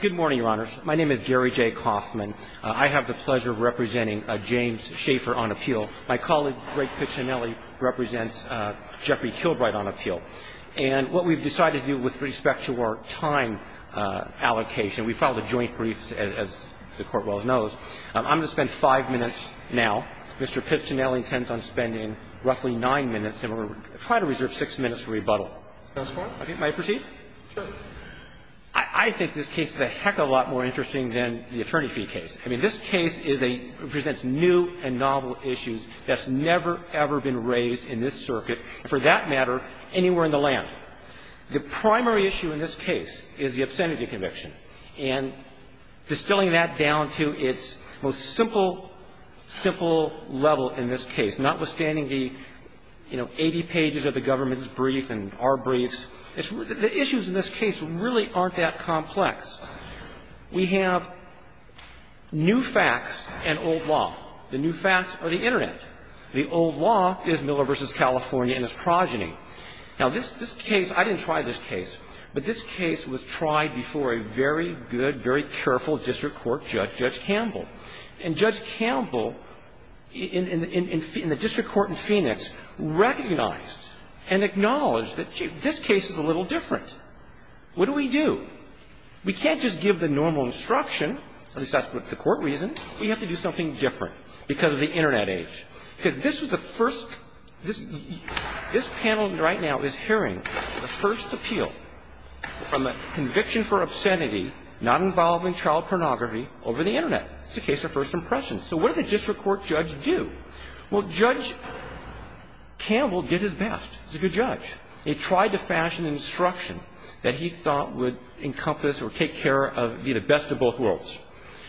Good morning, Your Honors. My name is Gary J. Coffman. I have the pleasure of representing James Schaffer on appeal. My colleague, Greg Piccinelli, represents Jeffrey Kilbright on appeal. And what we've decided to do with respect to our time allocation, we filed a joint brief, as the Court well knows. I'm going to spend five minutes now. Mr. Piccinelli intends on spending roughly nine minutes, and we're going to try to reserve six minutes for rebuttal. If that's fine. Okay. May I proceed? Sure. I think this case is a heck of a lot more interesting than the attorney fee case. I mean, this case is a – presents new and novel issues that's never, ever been raised in this circuit, and for that matter, anywhere in the land. The primary issue in this case is the obscenity conviction. And distilling that down to its most simple, simple level in this case, notwithstanding the, you know, 80 pages of the government's brief and our briefs, the issues in this case really aren't that complex. We have new facts and old law. The new facts are the Internet. The old law is Miller v. California and its progeny. Now, this case, I didn't try this case, but this case was tried before a very good, very careful district court judge, Judge Campbell. And Judge Campbell in the district court in Phoenix recognized and acknowledged that, gee, this case is a little different. What do we do? We can't just give the normal instruction, at least that's the court reason. We have to do something different because of the Internet age. Because this was the first – this panel right now is hearing the first appeal from a conviction for obscenity not involving child pornography over the Internet. It's a case of first impressions. So what did the district court judge do? Well, Judge Campbell did his best. He's a good judge. He tried to fashion an instruction that he thought would encompass or take care of the best of both worlds.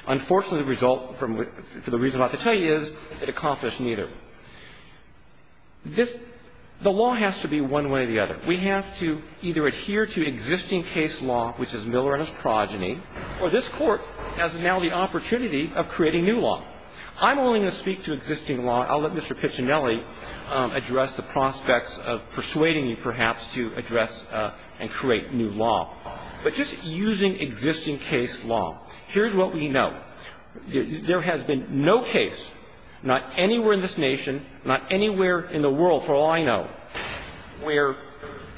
Unfortunately, the result, for the reason I have to tell you, is it accomplished neither. This – the law has to be one way or the other. We have to either adhere to existing case law, which is Miller and his progeny, or this Court has now the opportunity of creating new law. I'm only going to speak to existing law. I'll let Mr. Piccinelli address the prospects of persuading you, perhaps, to address and create new law. But just using existing case law, here's what we know. There has been no case, not anywhere in this nation, not anywhere in the world, for all I know, where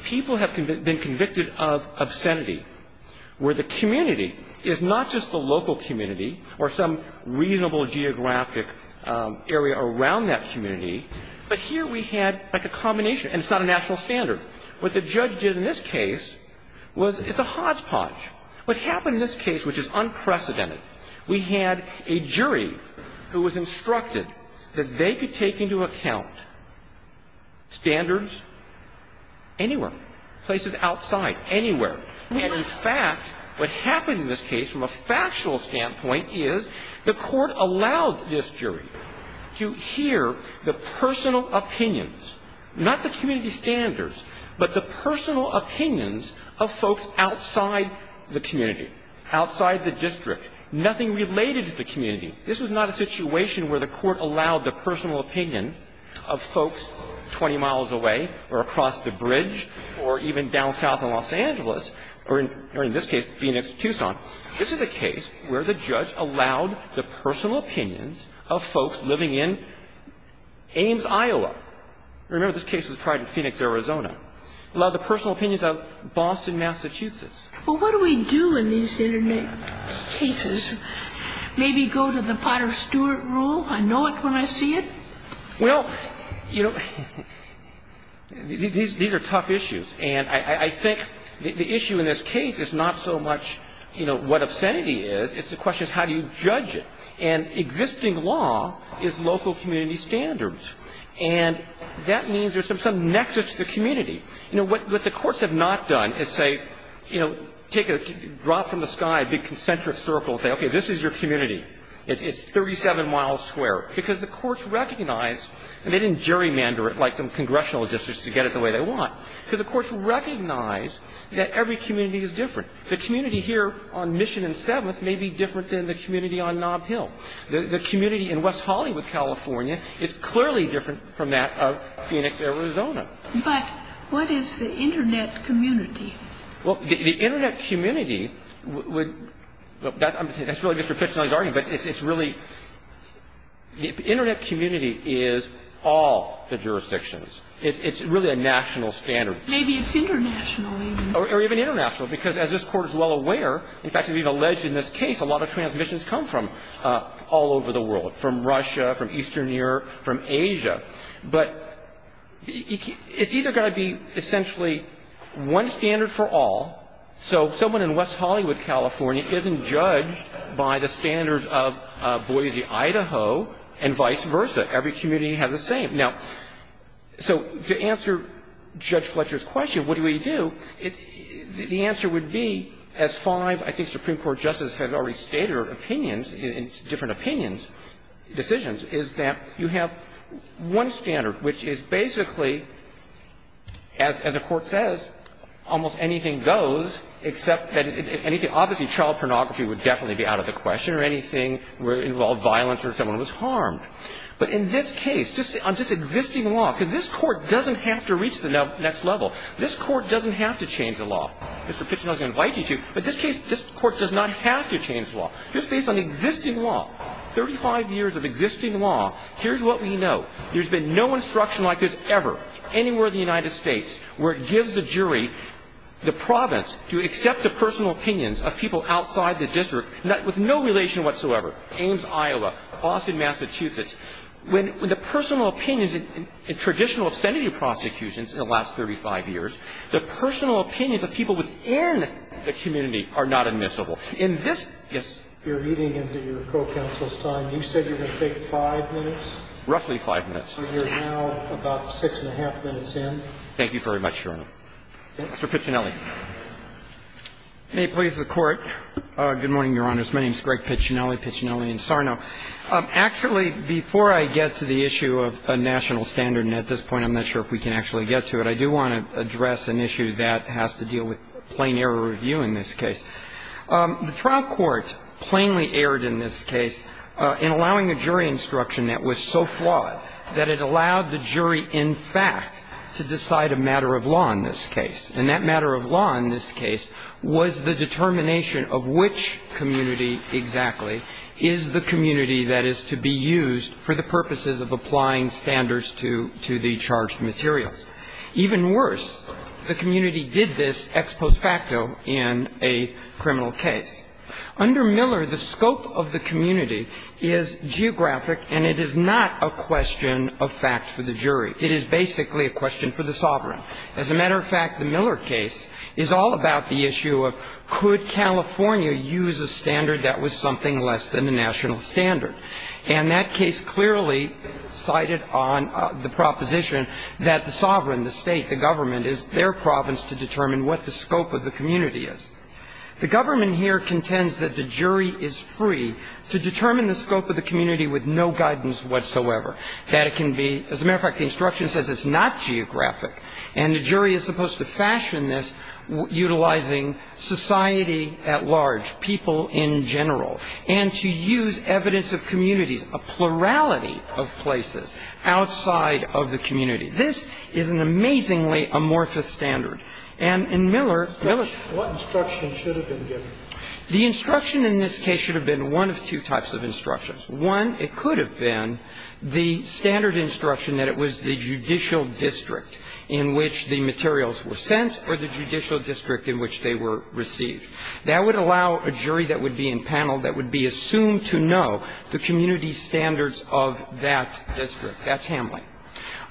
people have been convicted of obscenity, where the community is not just the local community or some reasonable geographic area around that community, but here we had like a combination. And it's not a national standard. What the judge did in this case was it's a hodgepodge. What happened in this case, which is unprecedented, we had a jury who was instructed that they could take into account standards anywhere, places outside, anywhere. And, in fact, what happened in this case from a factual standpoint is the Court allowed this jury to hear the personal opinions, not the community standards, but the personal opinions of folks outside the community, outside the district, nothing related to the community. This was not a situation where the Court allowed the personal opinion of folks 20 miles away or across the bridge or even down south in Los Angeles or in this case Phoenix to Tucson. This is a case where the judge allowed the personal opinions of folks living in Ames, Iowa. Remember, this case was tried in Phoenix, Arizona. Allowed the personal opinions of Boston, Massachusetts. Well, what do we do in these internet cases? Maybe go to the Potter Stewart rule? I know it when I see it? Well, you know, these are tough issues. And I think the issue in this case is not so much, you know, what obscenity is. It's a question of how do you judge it. And existing law is local community standards. And that means there's some nexus to the community. You know, what the courts have not done is say, you know, take a drop from the sky, a big concentric circle, say, okay, this is your community. It's 37 miles square. Because the courts recognize, and they didn't gerrymander it like some congressional districts to get it the way they want. Because the courts recognize that every community is different. The community here on Mission and Seventh may be different than the community on Nob Hill. The community in West Hollywood, California, is clearly different from that of Phoenix, Arizona. But what is the internet community? Well, the internet community would – that's really just for pitch-none's argument, but it's really – the internet community is all the jurisdictions. It's really a national standard. Maybe it's international even. Or even international. Because as this Court is well aware, in fact, it's even alleged in this case, a lot of transmissions come from all over the world, from Russia, from Eastern Europe, from Asia. But it's either going to be essentially one standard for all. So someone in West Hollywood, California, isn't judged by the standards of Boise, Idaho, and vice versa. Every community has the same. Now, so to answer Judge Fletcher's question, what do we do? The answer would be, as five, I think, Supreme Court justices have already stated their opinions, different opinions, decisions, is that you have one standard, which is basically, as the Court says, almost anything goes except that – obviously child pornography would definitely be out of the question or anything where it involved violence or someone was harmed. But in this case, on just existing law, because this Court doesn't have to reach the next level. This Court doesn't have to change the law. Mr. Pichino's going to invite you to. But this case, this Court does not have to change the law. Just based on existing law, 35 years of existing law, here's what we know. There's been no instruction like this ever anywhere in the United States where it gives the jury the province to accept the personal opinions of people outside the district with no relation whatsoever. Ames, Iowa. Boston, Massachusetts. When the personal opinions in traditional senate prosecutions in the last 35 years, the personal opinions of people within the community are not admissible. In this – yes. You're eating into your co-counsel's time. You said you were going to take five minutes. Roughly five minutes. So you're now about six and a half minutes in. Thank you very much, Your Honor. Mr. Piccinelli. May it please the Court. Good morning, Your Honors. My name is Greg Piccinelli, Piccinelli and Sarno. Actually, before I get to the issue of a national standard, and at this point I'm not sure if we can actually get to it, I do want to address an issue that has to deal with plain error review in this case. The trial court plainly erred in this case in allowing a jury instruction that was so flawed that it allowed the jury, in fact, to decide a matter of law in this case. And that matter of law in this case was the determination of which community exactly is the community that is to be used for the purposes of applying standards to the charged materials. Even worse, the community did this ex post facto in a criminal case. Under Miller, the scope of the community is geographic, and it is not a question of fact for the jury. It is basically a question for the sovereign. As a matter of fact, the Miller case is all about the issue of could California use a standard that was something less than the national standard. And that case clearly cited on the proposition that the sovereign, the State, the government, is their province to determine what the scope of the community is. The government here contends that the jury is free to determine the scope of the community with no guidance whatsoever. That it can be – as a matter of fact, the instruction says it's not geographic. And the jury is supposed to fashion this utilizing society at large, people in general, and to use evidence of communities, a plurality of places outside of the community. This is an amazingly amorphous standard. And in Miller, Miller's – What instruction should have been given? The instruction in this case should have been one of two types of instructions. One, it could have been the standard instruction that it was the judicial district in which the materials were sent or the judicial district in which they were received. That would allow a jury that would be in panel that would be assumed to know the community standards of that district. That's Hamline.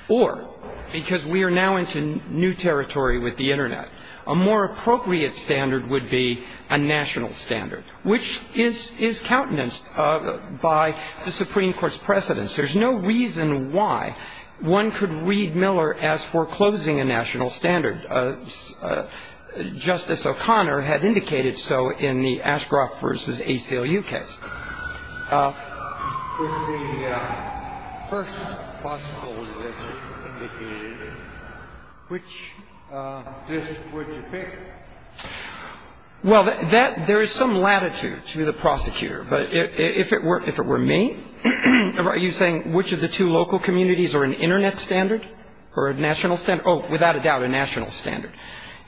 Or, because we are now into new territory with the Internet, a more appropriate standard would be a national standard, which is countenanced by the Supreme Court's precedence. There's no reason why one could read Miller as foreclosing a national standard. Justice O'Connor had indicated so in the Ashcroft v. ACLU case. With the first possible list indicated, which district would you pick? Well, there is some latitude to the prosecutor. But if it were me, are you saying which of the two local communities are an Internet standard or a national standard? Oh, without a doubt, a national standard.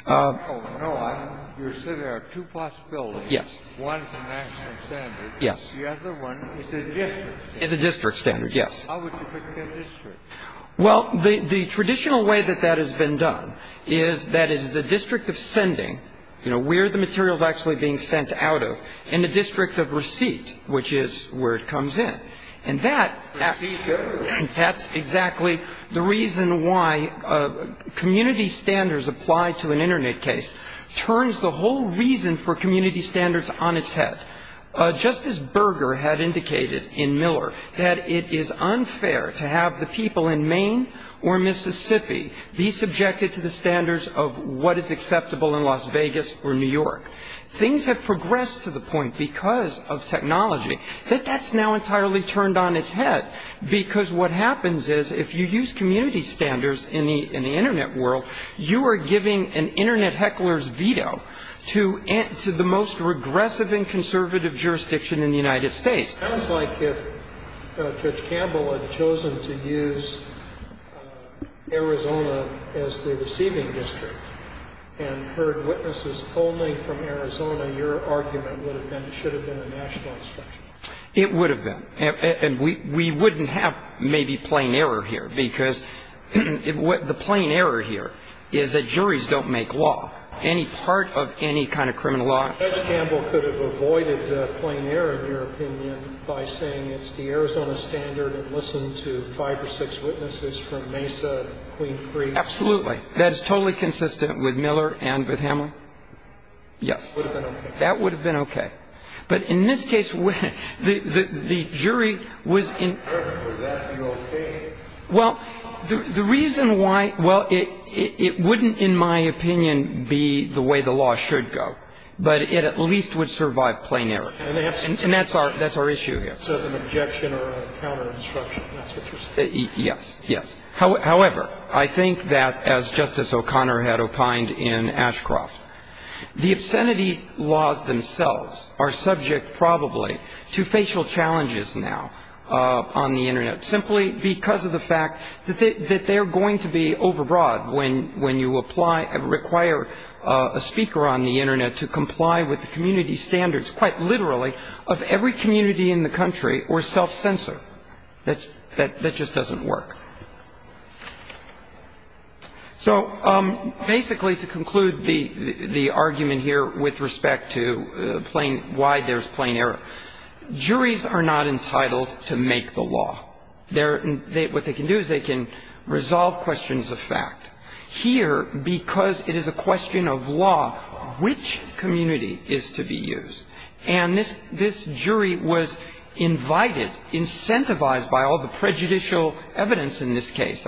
Oh, no. You said there are two possibilities. Yes. One is a national standard. Yes. The other one is a district. Is a district standard. Yes. How would you pick a district? Well, the traditional way that that has been done is that it is the district of sending, you know, where the material is actually being sent out of, and the district of receipt, which is where it comes in. And that's exactly the reason why community standards applied to an Internet case turns the whole reason for community standards on its head. Just as Berger had indicated in Miller that it is unfair to have the people in Maine or Mississippi be subjected to the standards of what is acceptable in Las Vegas or New York, things have progressed to the point because of technology that that's now entirely turned on its head, because what happens is if you use community standards in the Internet world, you are giving an Internet heckler's veto to the most regressive and conservative jurisdiction in the United States. It sounds like if Judge Campbell had chosen to use Arizona as the receiving district and heard witnesses polling from Arizona, your argument would have been it should have been a national instruction. It would have been. And we wouldn't have maybe plain error here, because the plain error here is that juries don't make law. Any part of any kind of criminal law. Judge Campbell could have avoided the plain error, in your opinion, by saying it's the Arizona standard and listen to five or six witnesses from Mesa, Queen Creek. Absolutely. That is totally consistent with Miller and with Hamlin. Yes. That would have been okay. But in this case, the jury was in. Would that be okay? Well, the reason why, well, it wouldn't, in my opinion, be the way the law should go. But it at least would survive plain error. And that's our issue here. So an objection or a counterinstruction, that's what you're saying. Yes. However, I think that as Justice O'Connor had opined in Ashcroft, the obscenity laws themselves are subject probably to facial challenges now on the Internet, simply because of the fact that they're going to be overbroad when you apply and require a speaker on the Internet to comply with the community standards, quite literally, of every community in the country or self-censor. That just doesn't work. So basically, to conclude the argument here with respect to plain why there's plain error, juries are not entitled to make the law. What they can do is they can resolve questions of fact. Here, because it is a question of law, which community is to be used? And this jury was invited, incentivized by all the prejudicial evidence in this case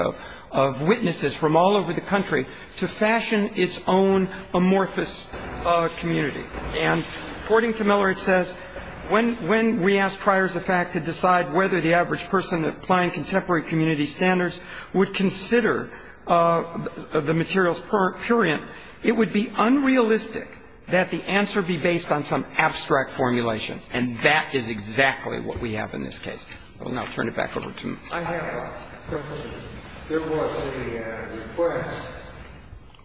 of witnesses from all over the country to fashion its own amorphous community. And according to Miller, it says, when we ask triers of fact to decide whether the average person applying contemporary community standards would consider the materials purient, it would be unrealistic that the answer be based on some abstract formulation. And that is exactly what we have in this case. I will now turn it back over to Mr. Carvin. I have a question. There was a request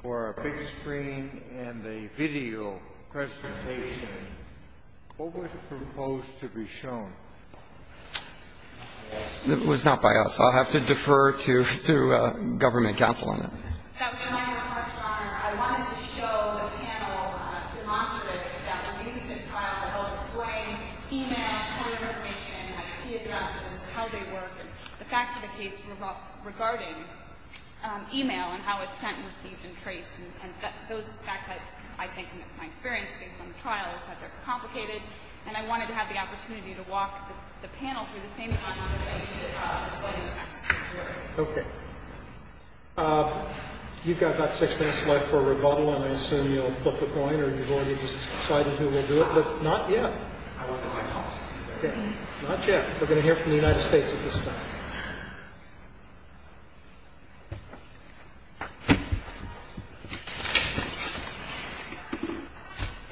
for a big screen and a video presentation. What was proposed to be shown? It was not by us. I'll have to defer to government counsel on that. That was my request, Your Honor. I wanted to show the panel demonstratives that were used in trials that helped explain e-mail key information, key addresses, how they work, and the facts of the case regarding e-mail and how it's sent and received and traced. And those facts, I think, in my experience, based on the trial, is that they're complicated. And I wanted to have the opportunity to walk the panel through the same conversation as what was asked of the jury. Okay. You've got about six minutes left for a rebuttal, and I assume you'll flip a coin or you've already decided who will do it. But not yet. Not yet. We're going to hear from the United States at this time.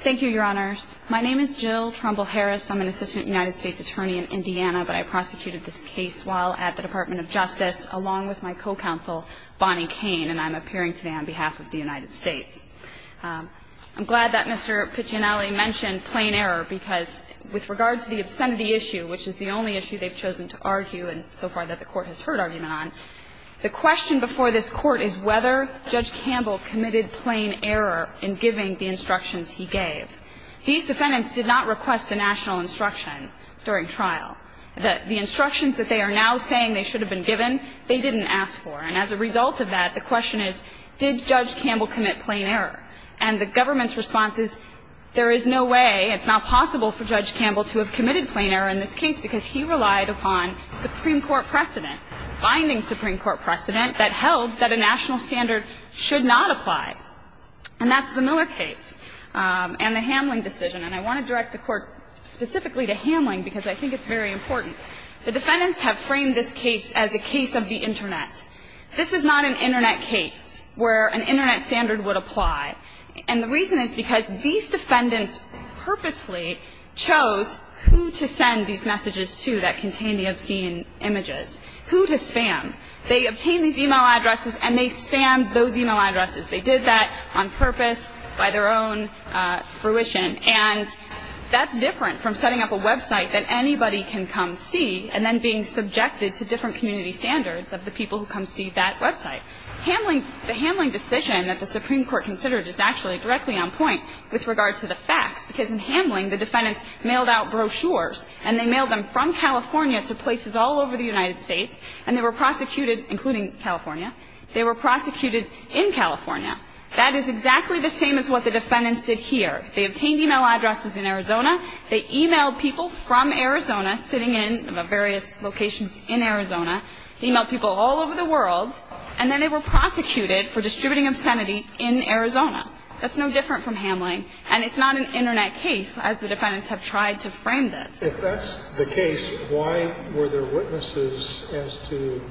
Thank you, Your Honors. My name is Jill Trumbull-Harris. I'm an assistant United States attorney in Indiana, but I prosecuted this case while at the Department of Justice, along with my co-counsel, Bonnie Kane, and I'm appearing today on behalf of the United States. I'm glad that Mr. Piccinelli mentioned plain error, because with regard to the obscenity issue, which is the only issue they've chosen to argue and so far that the Court has heard argument on, the question before this Court is whether Judge Campbell committed plain error in giving the instructions he gave. These defendants did not request a national instruction during trial. The instructions that they are now saying they should have been given, they didn't ask for. And as a result of that, the question is, did Judge Campbell commit plain error? And the government's response is, there is no way, it's not possible for Judge Campbell to have committed plain error in this case because he relied upon Supreme Court precedent, binding Supreme Court precedent that held that a national standard should not apply. And that's the Miller case and the Hamling decision. And I want to direct the Court specifically to Hamling because I think it's very important. The defendants have framed this case as a case of the Internet. This is not an Internet case where an Internet standard would apply. And the reason is because these defendants purposely chose who to send these messages to that contained the obscene images, who to spam. They obtained these e-mail addresses and they spammed those e-mail addresses. They did that on purpose, by their own fruition. And that's different from setting up a website that anybody can come see and then being subjected to different community standards of the people who come see that website. Hamling, the Hamling decision that the Supreme Court considered is actually directly on point with regard to the facts because in Hamling, the defendants mailed out brochures and they mailed them from California to places all over the United States and they were prosecuted, including California. They were prosecuted in California. That is exactly the same as what the defendants did here. They obtained e-mail addresses in Arizona. They e-mailed people from Arizona sitting in various locations in Arizona. They e-mailed people all over the world. And then they were prosecuted for distributing obscenity in Arizona. That's no different from Hamling. And it's not an Internet case, as the defendants have tried to frame this. If that's the case, why were there witnesses as to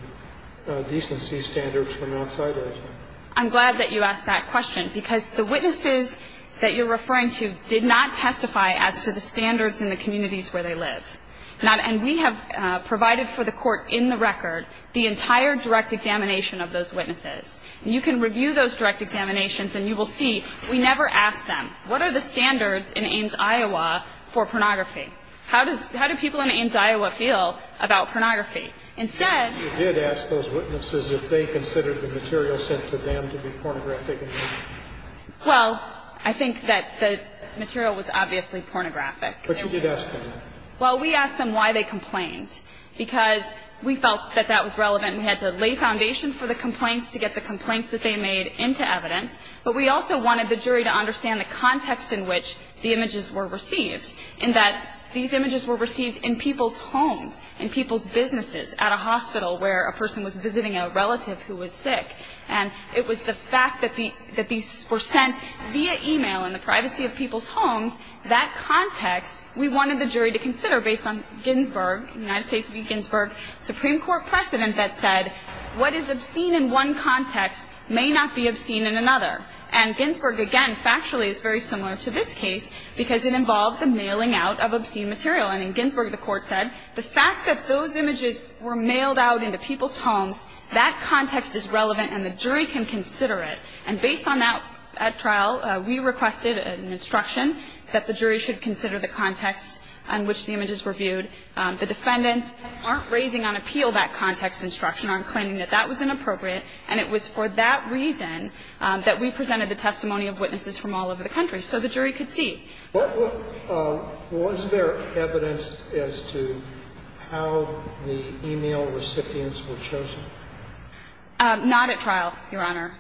decency standards from outside Arizona? I'm glad that you asked that question because the witnesses that you're referring to did not testify as to the standards in the communities where they live. And we have provided for the court in the record the entire direct examination of those witnesses. And you can review those direct examinations and you will see we never asked them, what are the standards in Ames, Iowa for pornography? How do people in Ames, Iowa feel about pornography? Instead you did ask those witnesses if they considered the material sent to them to be pornographic. Well, I think that the material was obviously pornographic. But you did ask them. Well, we asked them why they complained because we felt that that was relevant. We had to lay foundation for the complaints to get the complaints that they made into evidence. But we also wanted the jury to understand the context in which the images were received, in that these images were received in people's homes, in people's businesses, at a hospital where a person was visiting a relative who was sick. And it was the fact that these were sent via e-mail in the privacy of people's homes, that context, we wanted the jury to consider based on Ginsburg, United States v. Ginsburg, Supreme Court precedent that said, what is obscene in one context may not be obscene in another. And Ginsburg, again, factually is very similar to this case because it involved the mailing out of obscene material. And in Ginsburg, the Court said, the fact that those images were mailed out into people's homes, that context is relevant and the jury can consider it. And based on that trial, we requested an instruction that the jury should consider the context in which the images were viewed. The defendants aren't raising on appeal that context instruction, aren't claiming that that was inappropriate. And it was for that reason that we presented the testimony of witnesses from all over the country so the jury could see. Was there evidence as to how the e-mail recipients were chosen? Not at trial, Your Honor.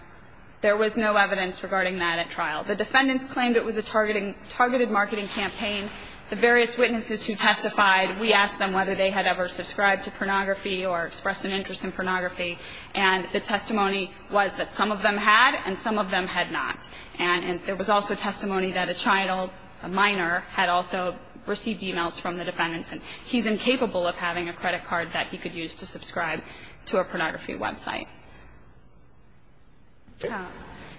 There was no evidence regarding that at trial. The defendants claimed it was a targeted marketing campaign. The various witnesses who testified, we asked them whether they had ever subscribed to pornography or expressed an interest in pornography. And the testimony was that some of them had and some of them had not. And there was also testimony that a child, a minor, had also received e-mails from the defendants. And he's incapable of having a credit card that he could use to subscribe to a pornography website.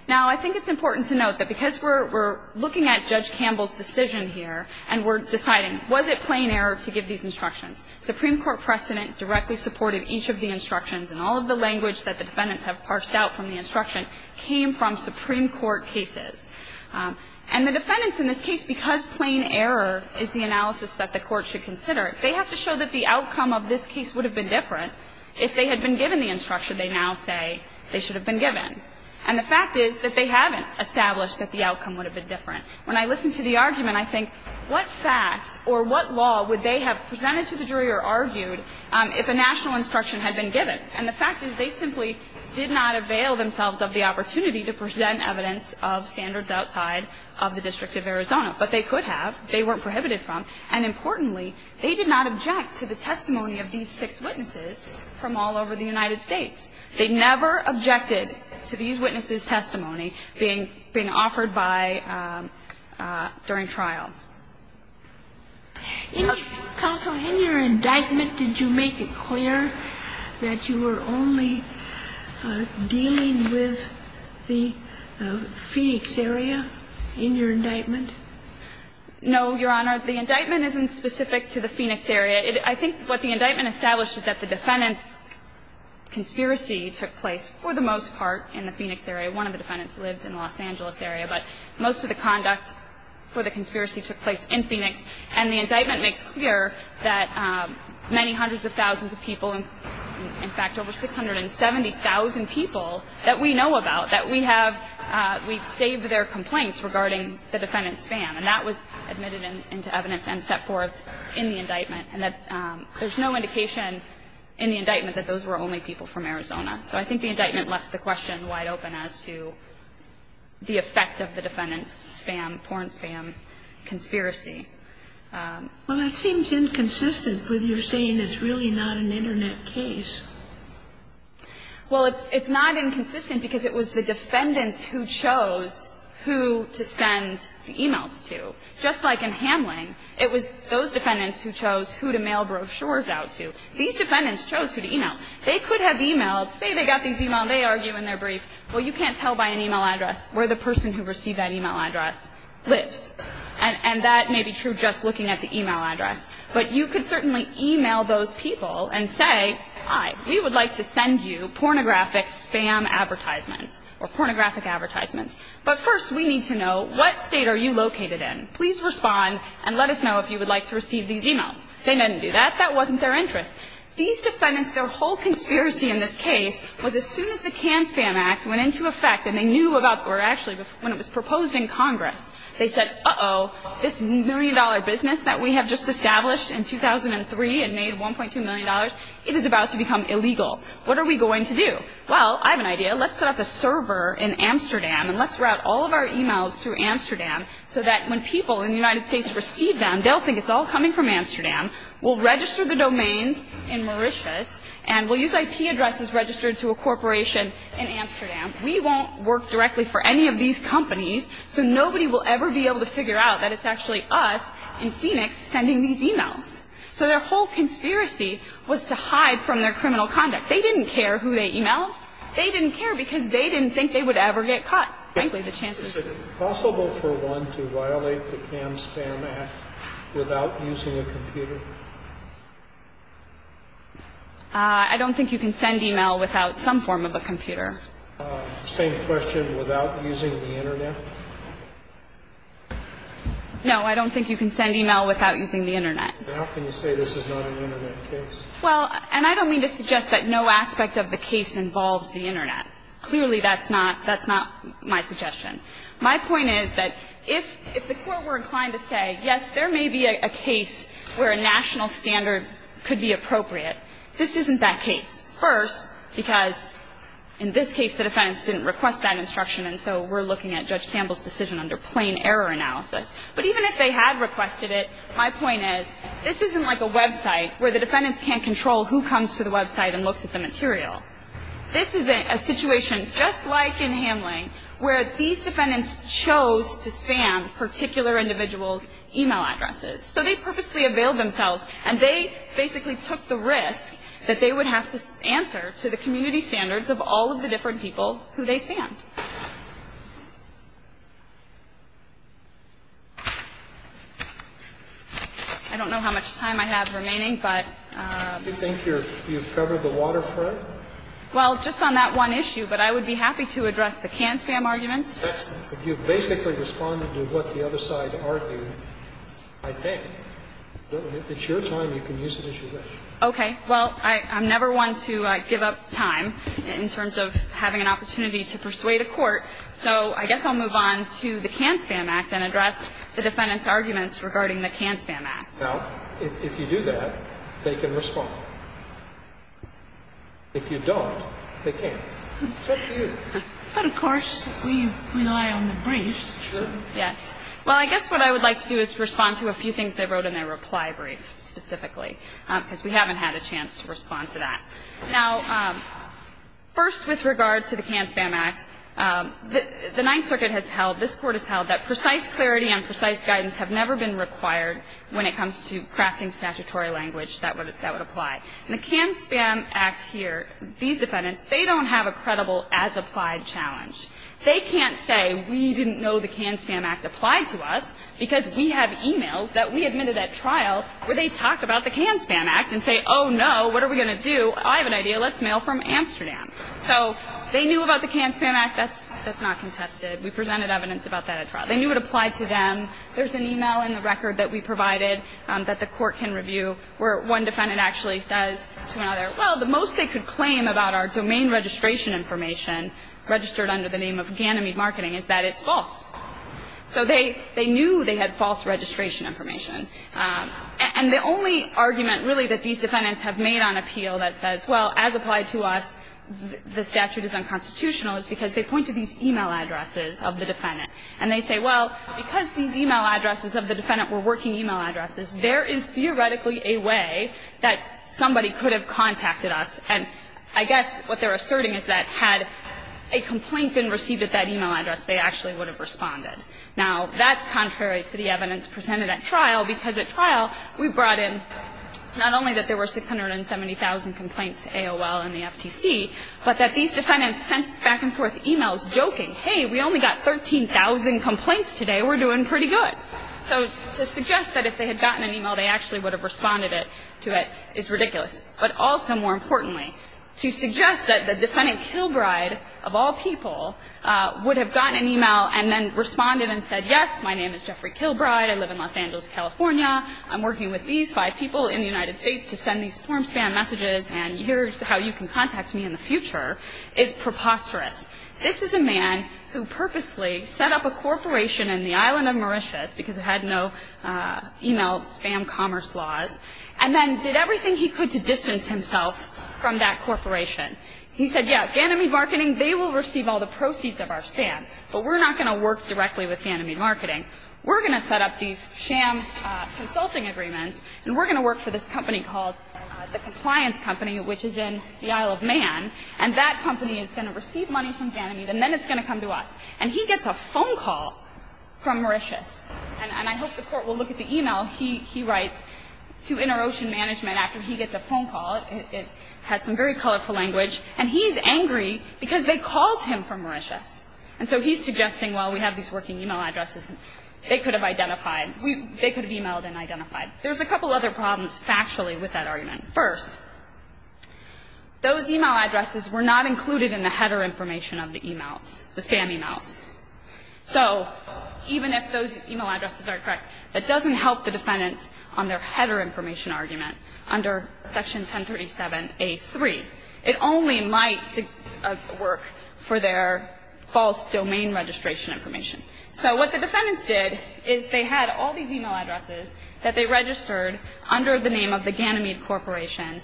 Now, I think it's important to note that because we're looking at Judge Campbell's decision here and we're deciding, was it plain error to give these instructions, Supreme Court precedent directly supported each of the instructions. And all of the language that the defendants have parsed out from the instruction came from Supreme Court cases. And the defendants in this case, because plain error is the analysis that the court should consider, they have to show that the outcome of this case would have been different if they had been given the instruction they now say they should have been given. And the fact is that they haven't established that the outcome would have been different. When I listen to the argument, I think what facts or what law would they have presented to the jury or argued if a national instruction had been given. And the fact is they simply did not avail themselves of the opportunity to present evidence of standards outside of the District of Arizona. But they could have. They weren't prohibited from. And importantly, they did not object to the testimony of these six witnesses from all over the United States. They never objected to these witnesses' testimony being offered by – during trial. In your indictment, did you make it clear that you were only dealing with the Phoenix area in your indictment? No, Your Honor. The indictment isn't specific to the Phoenix area. I think what the indictment established is that the defendants' conspiracy took place, for the most part, in the Phoenix area. One of the defendants lived in the Los Angeles area. But most of the conduct for the conspiracy took place in Phoenix. And the indictment makes clear that many hundreds of thousands of people – in fact, over 670,000 people that we know about, that we have – we've saved their complaints regarding the defendants' spam. And that was admitted into evidence and set forth in the indictment. And there's no indication in the indictment that those were only people from Arizona. So I think the indictment left the question wide open as to the effect of the defendants' spam, porn spam, conspiracy. Well, that seems inconsistent with your saying it's really not an Internet case. Well, it's not inconsistent because it was the defendants who chose who to send the e-mails to. Just like in Hamling, it was those defendants who chose who to mail brochures out to. These defendants chose who to e-mail. They could have e-mailed – say they got these e-mails. They argue in their brief, well, you can't tell by an e-mail address where the person who received that e-mail address lives. And that may be true just looking at the e-mail address. But you could certainly e-mail those people and say, hi, we would like to send you pornographic spam advertisements or pornographic advertisements. But first, we need to know what state are you located in. Please respond and let us know if you would like to receive these e-mails. They didn't do that. That wasn't their interest. These defendants, their whole conspiracy in this case was as soon as the CAN Spam Act went into effect and they knew about – or actually, when it was proposed in Congress, they said, uh-oh, this million-dollar business that we have just established in 2003 and made $1.2 million, it is about to become illegal. What are we going to do? Well, I have an idea. Let's set up a server in Amsterdam and let's route all of our e-mails through Amsterdam so that when people in the United States receive them, they'll think it's all coming from Amsterdam. We'll register the domains in Mauritius and we'll use IP addresses registered to a corporation in Amsterdam. We won't work directly for any of these companies, so nobody will ever be able to figure out that it's actually us in Phoenix sending these e-mails. So their whole conspiracy was to hide from their criminal conduct. They didn't care who they e-mailed. They didn't care because they didn't think they would ever get caught, frankly, the chances. Is it possible for one to violate the CAM-SPAM Act without using a computer? I don't think you can send e-mail without some form of a computer. Same question, without using the Internet? No, I don't think you can send e-mail without using the Internet. How can you say this is not an Internet case? Well, and I don't mean to suggest that no aspect of the case involves the Internet. Clearly, that's not my suggestion. My point is that if the Court were inclined to say, yes, there may be a case where a national standard could be appropriate, this isn't that case. First, because in this case the defendants didn't request that instruction and so we're looking at Judge Campbell's decision under plain error analysis. But even if they had requested it, my point is, this isn't like a website where the defendants can't control who comes to the website and looks at the material. This is a situation just like in Hamline where these defendants chose to spam particular individuals' e-mail addresses. So they purposely availed themselves and they basically took the risk that they would have to answer to the community standards of all of the different people who they spammed. I don't know how much time I have remaining, but... Do you think you've covered the waterfront? Well, just on that one issue, but I would be happy to address the can-spam arguments. If you've basically responded to what the other side argued, I think it's your time. You can use it as you wish. Okay. Well, I'm never one to give up time in terms of having an opportunity to persuade a court, so I guess I'll move on to the Can-Spam Act and address the defendants' arguments regarding the Can-Spam Act. Now, if you do that, they can respond. If you don't, they can't. It's up to you. But, of course, we rely on the briefs. Yes. Well, I guess what I would like to do is respond to a few things they wrote in their reply brief specifically, because we haven't had a chance to respond to that. Now, first, with regard to the Can-Spam Act, the Ninth Circuit has held, this Court has held that precise clarity and precise guidance have never been required when it comes to crafting statutory language that would apply. In the Can-Spam Act here, these defendants, they don't have a credible as-applied challenge. They can't say we didn't know the Can-Spam Act applied to us because we have e-mails that we admitted at trial where they talk about the Can-Spam Act and say, oh, no, what are we going to do? I have an idea. Let's mail from Amsterdam. So they knew about the Can-Spam Act. That's not contested. We presented evidence about that at trial. They knew it applied to them. There's an e-mail in the record that we provided that the Court can review where one defendant actually says to another, well, the most they could claim about our domain registration information registered under the name of Ganymede Marketing is that it's false. So they knew they had false registration information. And the only argument, really, that these defendants have made on appeal that says, well, as applied to us, the statute is unconstitutional is because they point to these e-mail addresses of the defendant. And they say, well, because these e-mail addresses of the defendant were working e-mail addresses, there is theoretically a way that somebody could have contacted us. And I guess what they're asserting is that had a complaint been received at that e-mail address, they actually would have responded. Now, that's contrary to the evidence presented at trial because at trial we brought in not only that there were 670,000 complaints to AOL and the FTC, but that these defendants were saying, hey, we only got 13,000 complaints today. We're doing pretty good. So to suggest that if they had gotten an e-mail, they actually would have responded to it is ridiculous. But also, more importantly, to suggest that the defendant Kilbride, of all people, would have gotten an e-mail and then responded and said, yes, my name is Jeffrey Kilbride. I live in Los Angeles, California. I'm working with these five people in the United States to send these form spam messages, and here's how you can contact me in the future, is preposterous. This is a man who purposely set up a corporation in the island of Mauritius, because it had no e-mail spam commerce laws, and then did everything he could to distance himself from that corporation. He said, yeah, Ganymede Marketing, they will receive all the proceeds of our spam, but we're not going to work directly with Ganymede Marketing. We're going to set up these sham consulting agreements, and we're going to work for this company called the Compliance Company, which is in the Isle of Man, and that company is going to work for Ganymede, and then it's going to come to us. And he gets a phone call from Mauritius, and I hope the Court will look at the e-mail he writes to InterOcean Management after he gets a phone call. It has some very colorful language. And he's angry because they called him from Mauritius. And so he's suggesting, well, we have these working e-mail addresses. They could have identified. They could have e-mailed and identified. There's a couple other problems factually with that argument. First, those e-mail addresses were not included in the header information of the e-mails, the spam e-mails. So even if those e-mail addresses are correct, that doesn't help the defendants on their header information argument under Section 1037A3. It only might work for their false domain registration information. So what the defendants did is they had all these e-mail addresses that they registered under the name of the Ganymede Corporation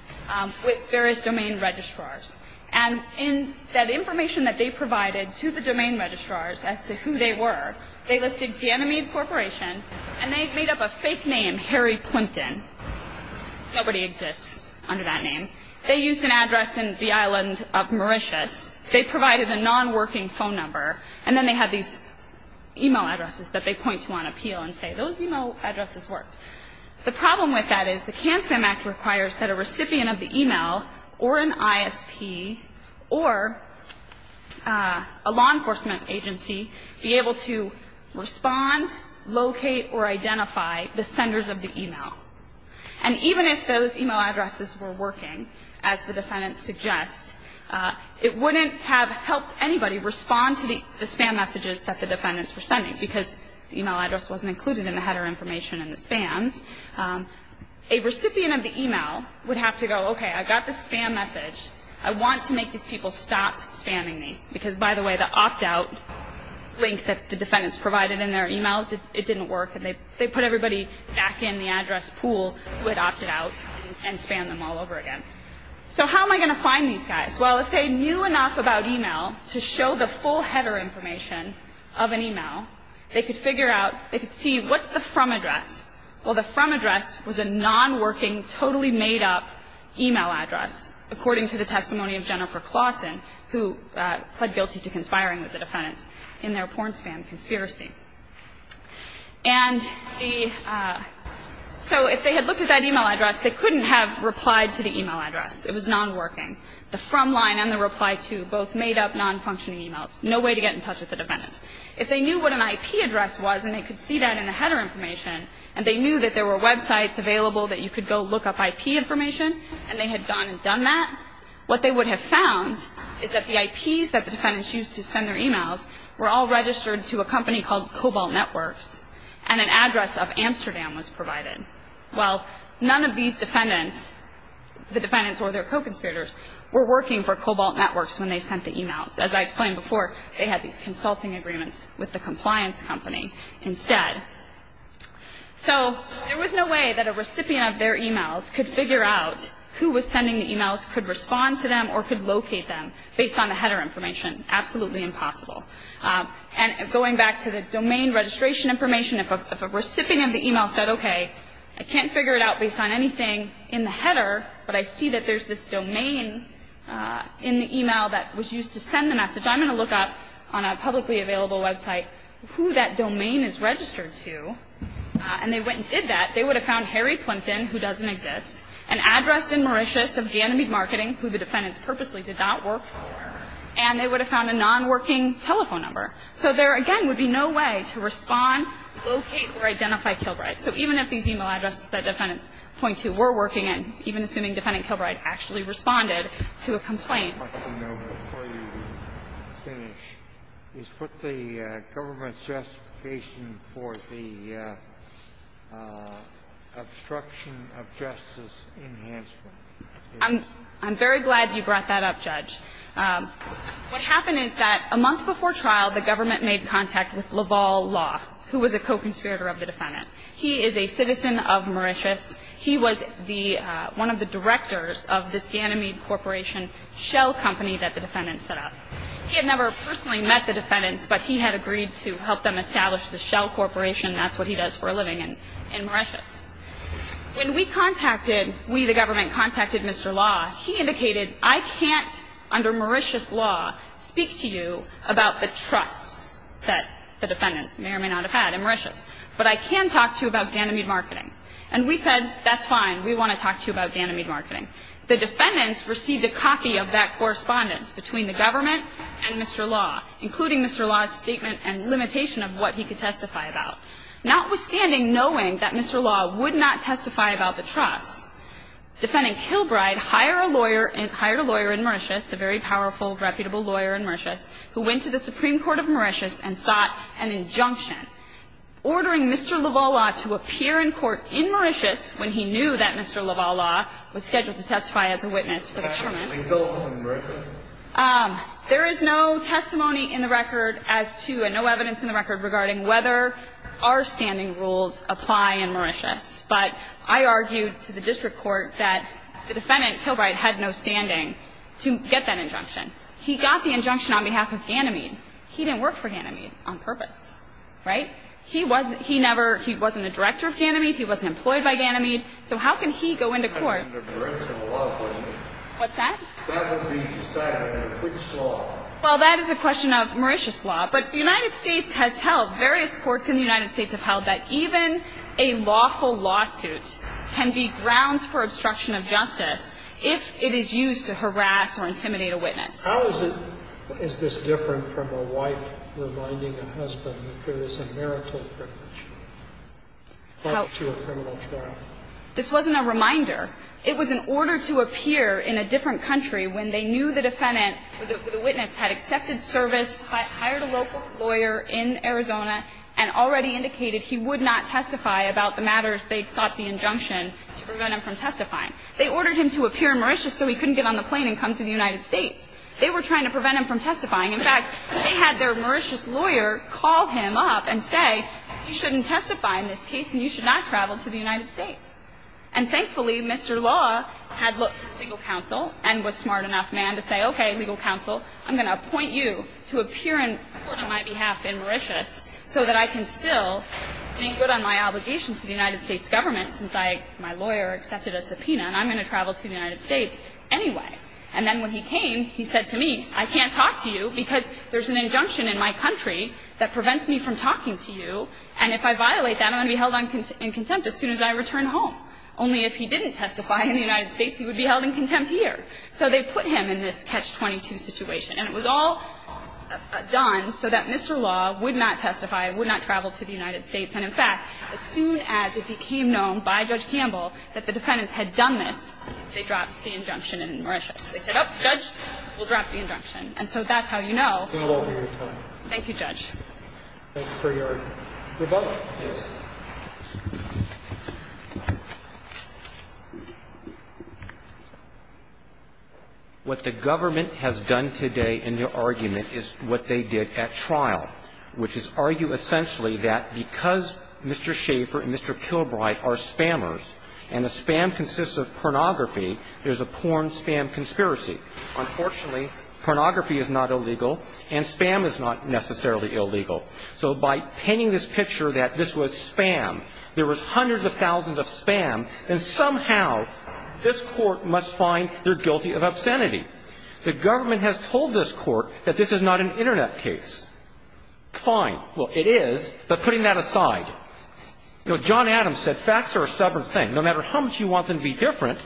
with various domain registrars. And in that information that they provided to the domain registrars as to who they were, they listed Ganymede Corporation, and they made up a fake name, Harry Plimpton. Nobody exists under that name. They used an address in the island of Mauritius. They provided a nonworking phone number. And then they had these e-mail addresses that they point to on appeal and say, those e-mail addresses worked. The problem with that is the Can-Spam Act requires that a recipient of the e-mail or an ISP or a law enforcement agency be able to respond, locate, or identify the senders of the e-mail. And even if those e-mail addresses were working, as the defendants suggest, it wouldn't have helped anybody respond to the spam messages that the defendants were sending because the e-mail address wasn't included in the header information and the spams. A recipient of the e-mail would have to go, okay, I got the spam message. I want to make these people stop spamming me because, by the way, the opt-out link that the defendants provided in their e-mails, it didn't work, and they put everybody back in the address pool who had opted out and spammed them all over again. So how am I going to find these guys? Well, if they knew enough about e-mail to show the full header information of an e-mail, they could figure out, they could see what's the from address. Well, the from address was a non-working, totally made-up e-mail address, according to the testimony of Jennifer Claussen, who pled guilty to conspiring with the defendants in their porn spam conspiracy. And the so if they had looked at that e-mail address, they couldn't have replied to the e-mail address. It was non-working. The from line and the reply to, both made-up, non-functioning e-mails. No way to get in touch with the defendants. If they knew what an IP address was, and they could see that in the header information, and they knew that there were websites available that you could go look up IP information, and they had gone and done that, what they would have found is that the IPs that the defendants used to send their e-mails were all registered to a company called Cobalt Networks, and an address of Amsterdam was provided. Well, none of these defendants, the defendants or their co-conspirators, were working for Cobalt Networks when they sent the e-mails. As I explained before, they had these consulting agreements with the compliance company instead. So there was no way that a recipient of their e-mails could figure out who was sending the e-mails, could respond to them, or could locate them based on the header information. Absolutely impossible. And going back to the domain registration information, if a recipient of the e-mail said, okay, I can't figure it out based on anything in the header, but I see that there's this domain in the e-mail that was used to send the message, I'm going to look up on a publicly available website who that domain is registered to. And they went and did that. They would have found Harry Plimpton, who doesn't exist, an address in Mauritius of Ganymede Marketing, who the defendants purposely did not work for, and they would have found a nonworking telephone number. So there, again, would be no way to respond, locate, or identify Kilbride. So even if these e-mail addresses that defendants point to were working in, even assuming defendant Kilbride actually responded to a complaint. Sotomayor, before you finish, is what the government's justification for the obstruction of justice enhancement is? I'm very glad you brought that up, Judge. What happened is that a month before trial, the government made contact with Laval Law, who was a co-conspirator of the defendant. He is a citizen of Mauritius. He was the one of the directors of this Ganymede Corporation shell company that the defendants set up. He had never personally met the defendants, but he had agreed to help them establish the shell corporation, and that's what he does for a living in Mauritius. When we contacted, we, the government, contacted Mr. Law, he indicated, I can't, under Mauritius law, speak to you about the trusts that the defendants may or may not have had in Mauritius, but I can talk to you about Ganymede marketing. And we said, that's fine. We want to talk to you about Ganymede marketing. The defendants received a copy of that correspondence between the government and Mr. Law, including Mr. Law's statement and limitation of what he could testify about. Notwithstanding knowing that Mr. Law would not testify about the trusts, defending Kilbride hired a lawyer in Mauritius, a very powerful, reputable lawyer in Mauritius, who went to the Supreme Court of Mauritius and sought an injunction ordering Mr. Lavalla to appear in court in Mauritius when he knew that Mr. Lavalla was scheduled to testify as a witness for the government. There is no testimony in the record as to, and no evidence in the record regarding whether our standing rules apply in Mauritius. But I argued to the district court that the defendant, Kilbride, had no standing to get that injunction. He got the injunction on behalf of Ganymede. He didn't work for Ganymede on purpose. Right? He wasn't a director of Ganymede. He wasn't employed by Ganymede. So how can he go into court? What's that? Well, that is a question of Mauritius law. But the United States has held, various courts in the United States have held, that even a lawful lawsuit can be grounds for obstruction of justice if it is used to harass or intimidate a witness. How is it, is this different from a wife reminding a husband that there is a marital privilege plus to a criminal trial? This wasn't a reminder. It was an order to appear in a different country when they knew the defendant, the witness, had accepted service, hired a local lawyer in Arizona, and already indicated he would not testify about the matters they sought the injunction to prevent him from testifying. They ordered him to appear in Mauritius so he couldn't get on the plane and come to the United States. They were trying to prevent him from testifying. In fact, they had their Mauritius lawyer call him up and say, you shouldn't testify in this case and you should not travel to the United States. And thankfully, Mr. Law had legal counsel and was smart enough, man, to say, okay, legal counsel, I'm going to appoint you to appear in court on my behalf in Mauritius so that I can still be good on my obligation to the United States government since I, my lawyer, accepted a subpoena and I'm going to travel to the United States anyway. And then when he came, he said to me, I can't talk to you because there's an injunction in my country that prevents me from talking to you, and if I violate that, I'm going to be held in contempt as soon as I return home. Only if he didn't testify in the United States, he would be held in contempt here. So they put him in this catch-22 situation. And it was all done so that Mr. Law would not testify, would not travel to the United States. And in fact, as soon as it became known by Judge Campbell that the defendants had done this, they dropped the injunction in Mauritius. They said, oh, Judge, we'll drop the injunction. And so that's how you know. Thank you, Judge. Thank you for your rebuttal. Yes. What the government has done today in their argument is what they did at trial, which is argue essentially that because Mr. Schaefer and Mr. Kilbride are spammers and the spam consists of pornography, there's a porn-spam conspiracy. Unfortunately, pornography is not illegal, and spam is not necessarily illegal. So by painting this picture that this was spam, there was hundreds of thousands of spam, and somehow this court must find they're guilty of obscenity. The government has told this court that this is not an Internet case. Fine. Well, it is. But putting that aside, you know, John Adams said facts are a stubborn thing. No matter how much you want them to be different,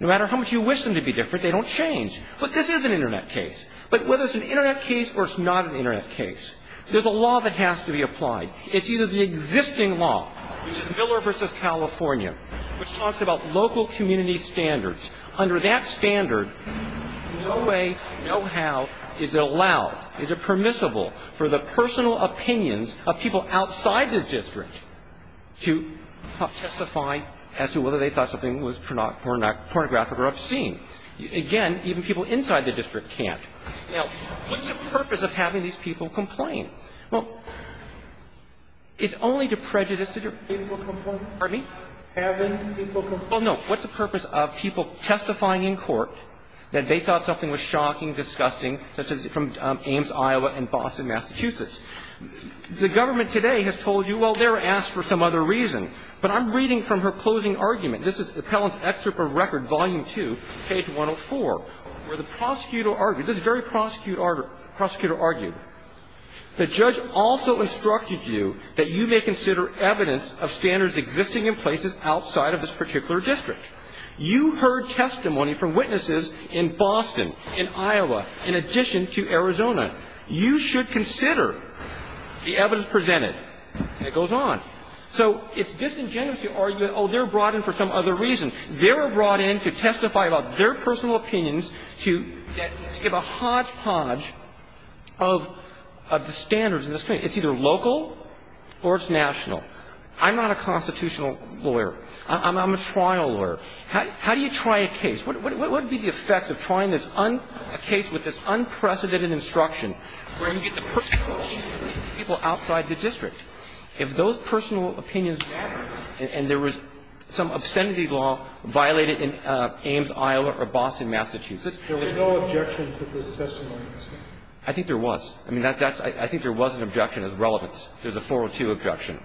no matter how much you wish them to be different, they don't change. But this is an Internet case. But whether it's an Internet case or it's not an Internet case, there's a law that has to be applied. It's either the existing law, which is Miller v. California, which talks about local community standards. Under that standard, no way, no how is it allowed, is it permissible for the personal opinions of people outside the district to testify as to whether they thought something was pornographic or obscene. Again, even people inside the district can't. Now, what's the purpose of having these people complain? Well, it's only to prejudice the people who complain. Pardon me? Having people complain. Well, no. What's the purpose of people testifying in court that they thought something was shocking, disgusting, such as from Ames, Iowa, and Boston, Massachusetts? The government today has told you, well, they were asked for some other reason. But I'm reading from her closing argument. This is Appellant's Excerpt from Record, Volume 2, page 104, where the prosecutor argued, this very prosecutor argued, the judge also instructed you that you may consider evidence of standards existing in places outside of this particular district. You heard testimony from witnesses in Boston, in Iowa, in addition to Arizona. You should consider the evidence presented. And it goes on. So it's disingenuous to argue that, oh, they're brought in for some other reason. They were brought in to testify about their personal opinions to give a hodgepodge of the standards in this case. It's either local or it's national. I'm not a constitutional lawyer. I'm a trial lawyer. How do you try a case? What would be the effects of trying this case with this unprecedented instruction where you get the perfection of people outside the district? If those personal opinions matter and there was some obscenity law violated in Ames, Iowa, or Boston, Massachusetts. There was no objection to this testimony. I think there was. I mean, I think there was an objection as relevance. There's a 402 objection.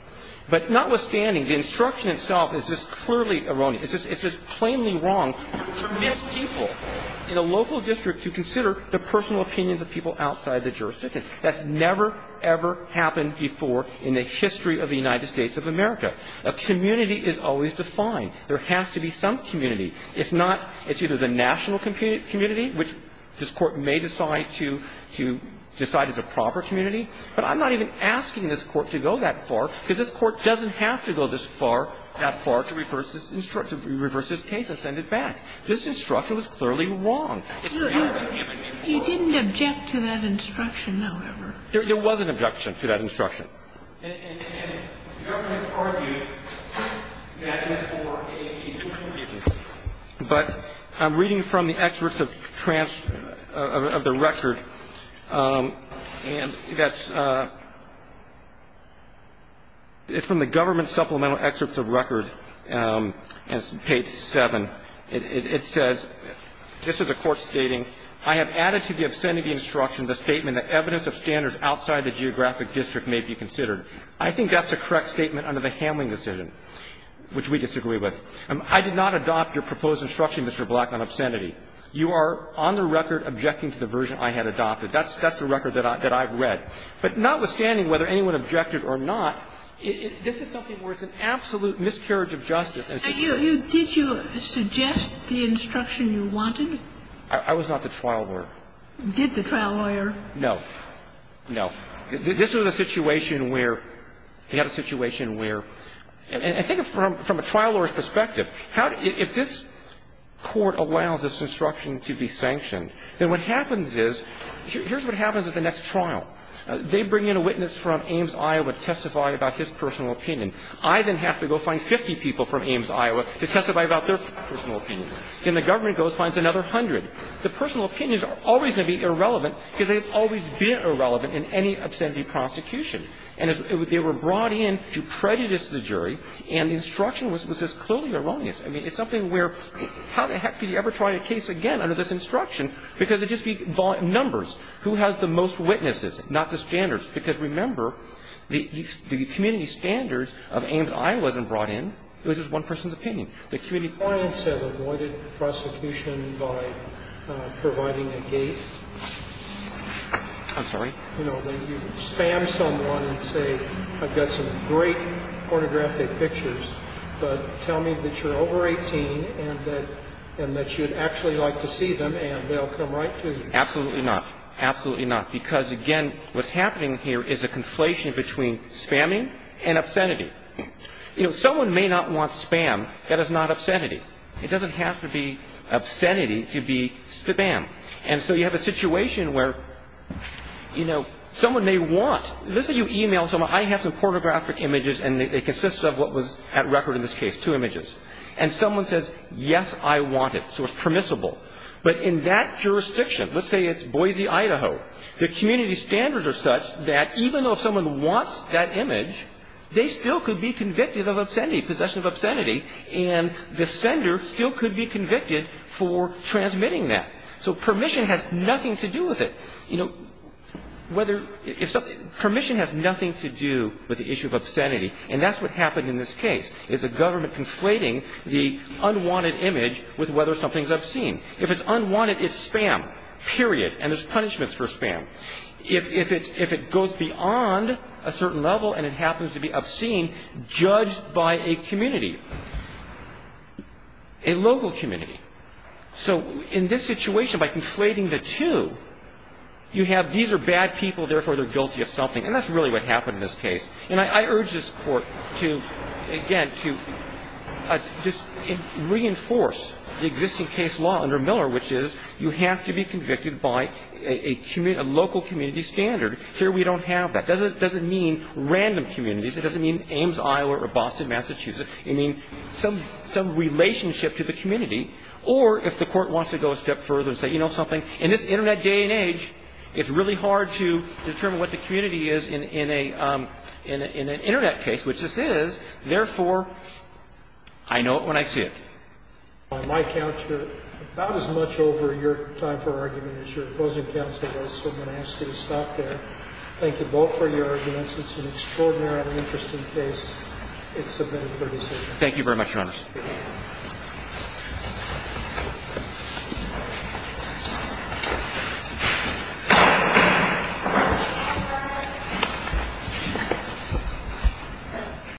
But notwithstanding, the instruction itself is just clearly erroneous. It's just plainly wrong to permit people in a local district to consider the personal opinions of people outside the jurisdiction. That's never, ever happened before in the history of the United States of America. A community is always defined. There has to be some community. It's not the national community, which this Court may decide to decide as a proper community, but I'm not even asking this Court to go that far, because this Court doesn't have to go that far to reverse this case and send it back. This instruction was clearly wrong. It's not a human being's fault. You didn't object to that instruction, however. There was an objection to that instruction. And the government argued that it was for a different reason. But I'm reading from the excerpts of the record, and that's from the government supplemental excerpts of record, page 7. It says, this is a court stating, I have added to the obscenity instruction the statement that evidence of standards outside the geographic district may be considered. I think that's a correct statement under the Hamling decision, which we disagree with. I did not adopt your proposed instruction, Mr. Black, on obscenity. You are on the record objecting to the version I had adopted. That's the record that I've read. But notwithstanding whether anyone objected or not, this is something where it's an absolute miscarriage of justice. Kagan, did you suggest the instruction you wanted? I was not the trial lawyer. Did the trial lawyer? No. No. This was a situation where you have a situation where, I think from a trial lawyer's perspective, if this court allows this instruction to be sanctioned, then what happens is, here's what happens at the next trial. They bring in a witness from Ames, Iowa to testify about his personal opinion. I then have to go find 50 people from Ames, Iowa, to testify about their personal opinions. Then the government goes and finds another hundred. The personal opinions are always going to be irrelevant, because they've always been irrelevant in any obscenity prosecution. And they were brought in to prejudice the jury, and the instruction was just clearly erroneous. I mean, it's something where, how the heck could you ever try a case again under this instruction, because it would just be numbers. Who has the most witnesses, not the standards? And so, again, this is a situation where, I think from a trial lawyer's perspective, if this court allows this instruction to be sanctioned, then what happens is, here's opinions. I then have to go find 50 people from Ames, Iowa, to testify about their personal opinions. Someone may not want spam. That is not obscenity. It doesn't have to be obscenity to be spam. And so you have a situation where someone may want. Let's say you email someone. I have some pornographic images, and it consists of what was at record in this case, two images. And someone says, yes, I want it. So it's permissible. But in that jurisdiction, let's say it's Boise, Idaho, the community standards are such that even though someone wants that image, they still could be convicted of obscenity, possession of obscenity, and the sender still could be convicted for transmitting that. So permission has nothing to do with it. You know, whether – permission has nothing to do with the issue of obscenity. And that's what happened in this case, is the government conflating the unwanted image with whether something's obscene. If it's unwanted, it's spam, period. And there's punishments for spam. If it goes beyond a certain level and it happens to be obscene, judged by a community, a local community. So in this situation, by conflating the two, you have these are bad people, therefore they're guilty of something. And that's really what happened in this case. And I urge this Court to, again, to just reinforce the existing case law under Miller, which is you have to be convicted by a local community standard. Here we don't have that. It doesn't mean random communities. It doesn't mean Ames, Iowa, or Boston, Massachusetts. It means some relationship to the community. Or if the Court wants to go a step further and say, you know something, in this Internet day and age, it's really hard to determine what the community is in an Internet case, which this is, therefore I know it when I see it. By my count, you're about as much over your time for argument as your opposing counsel was, so I'm going to ask you to stop there. Thank you both for your arguments. It's an extraordinarily interesting case. It's submitted for decision. Thank you very much, Your Honor. Thank you.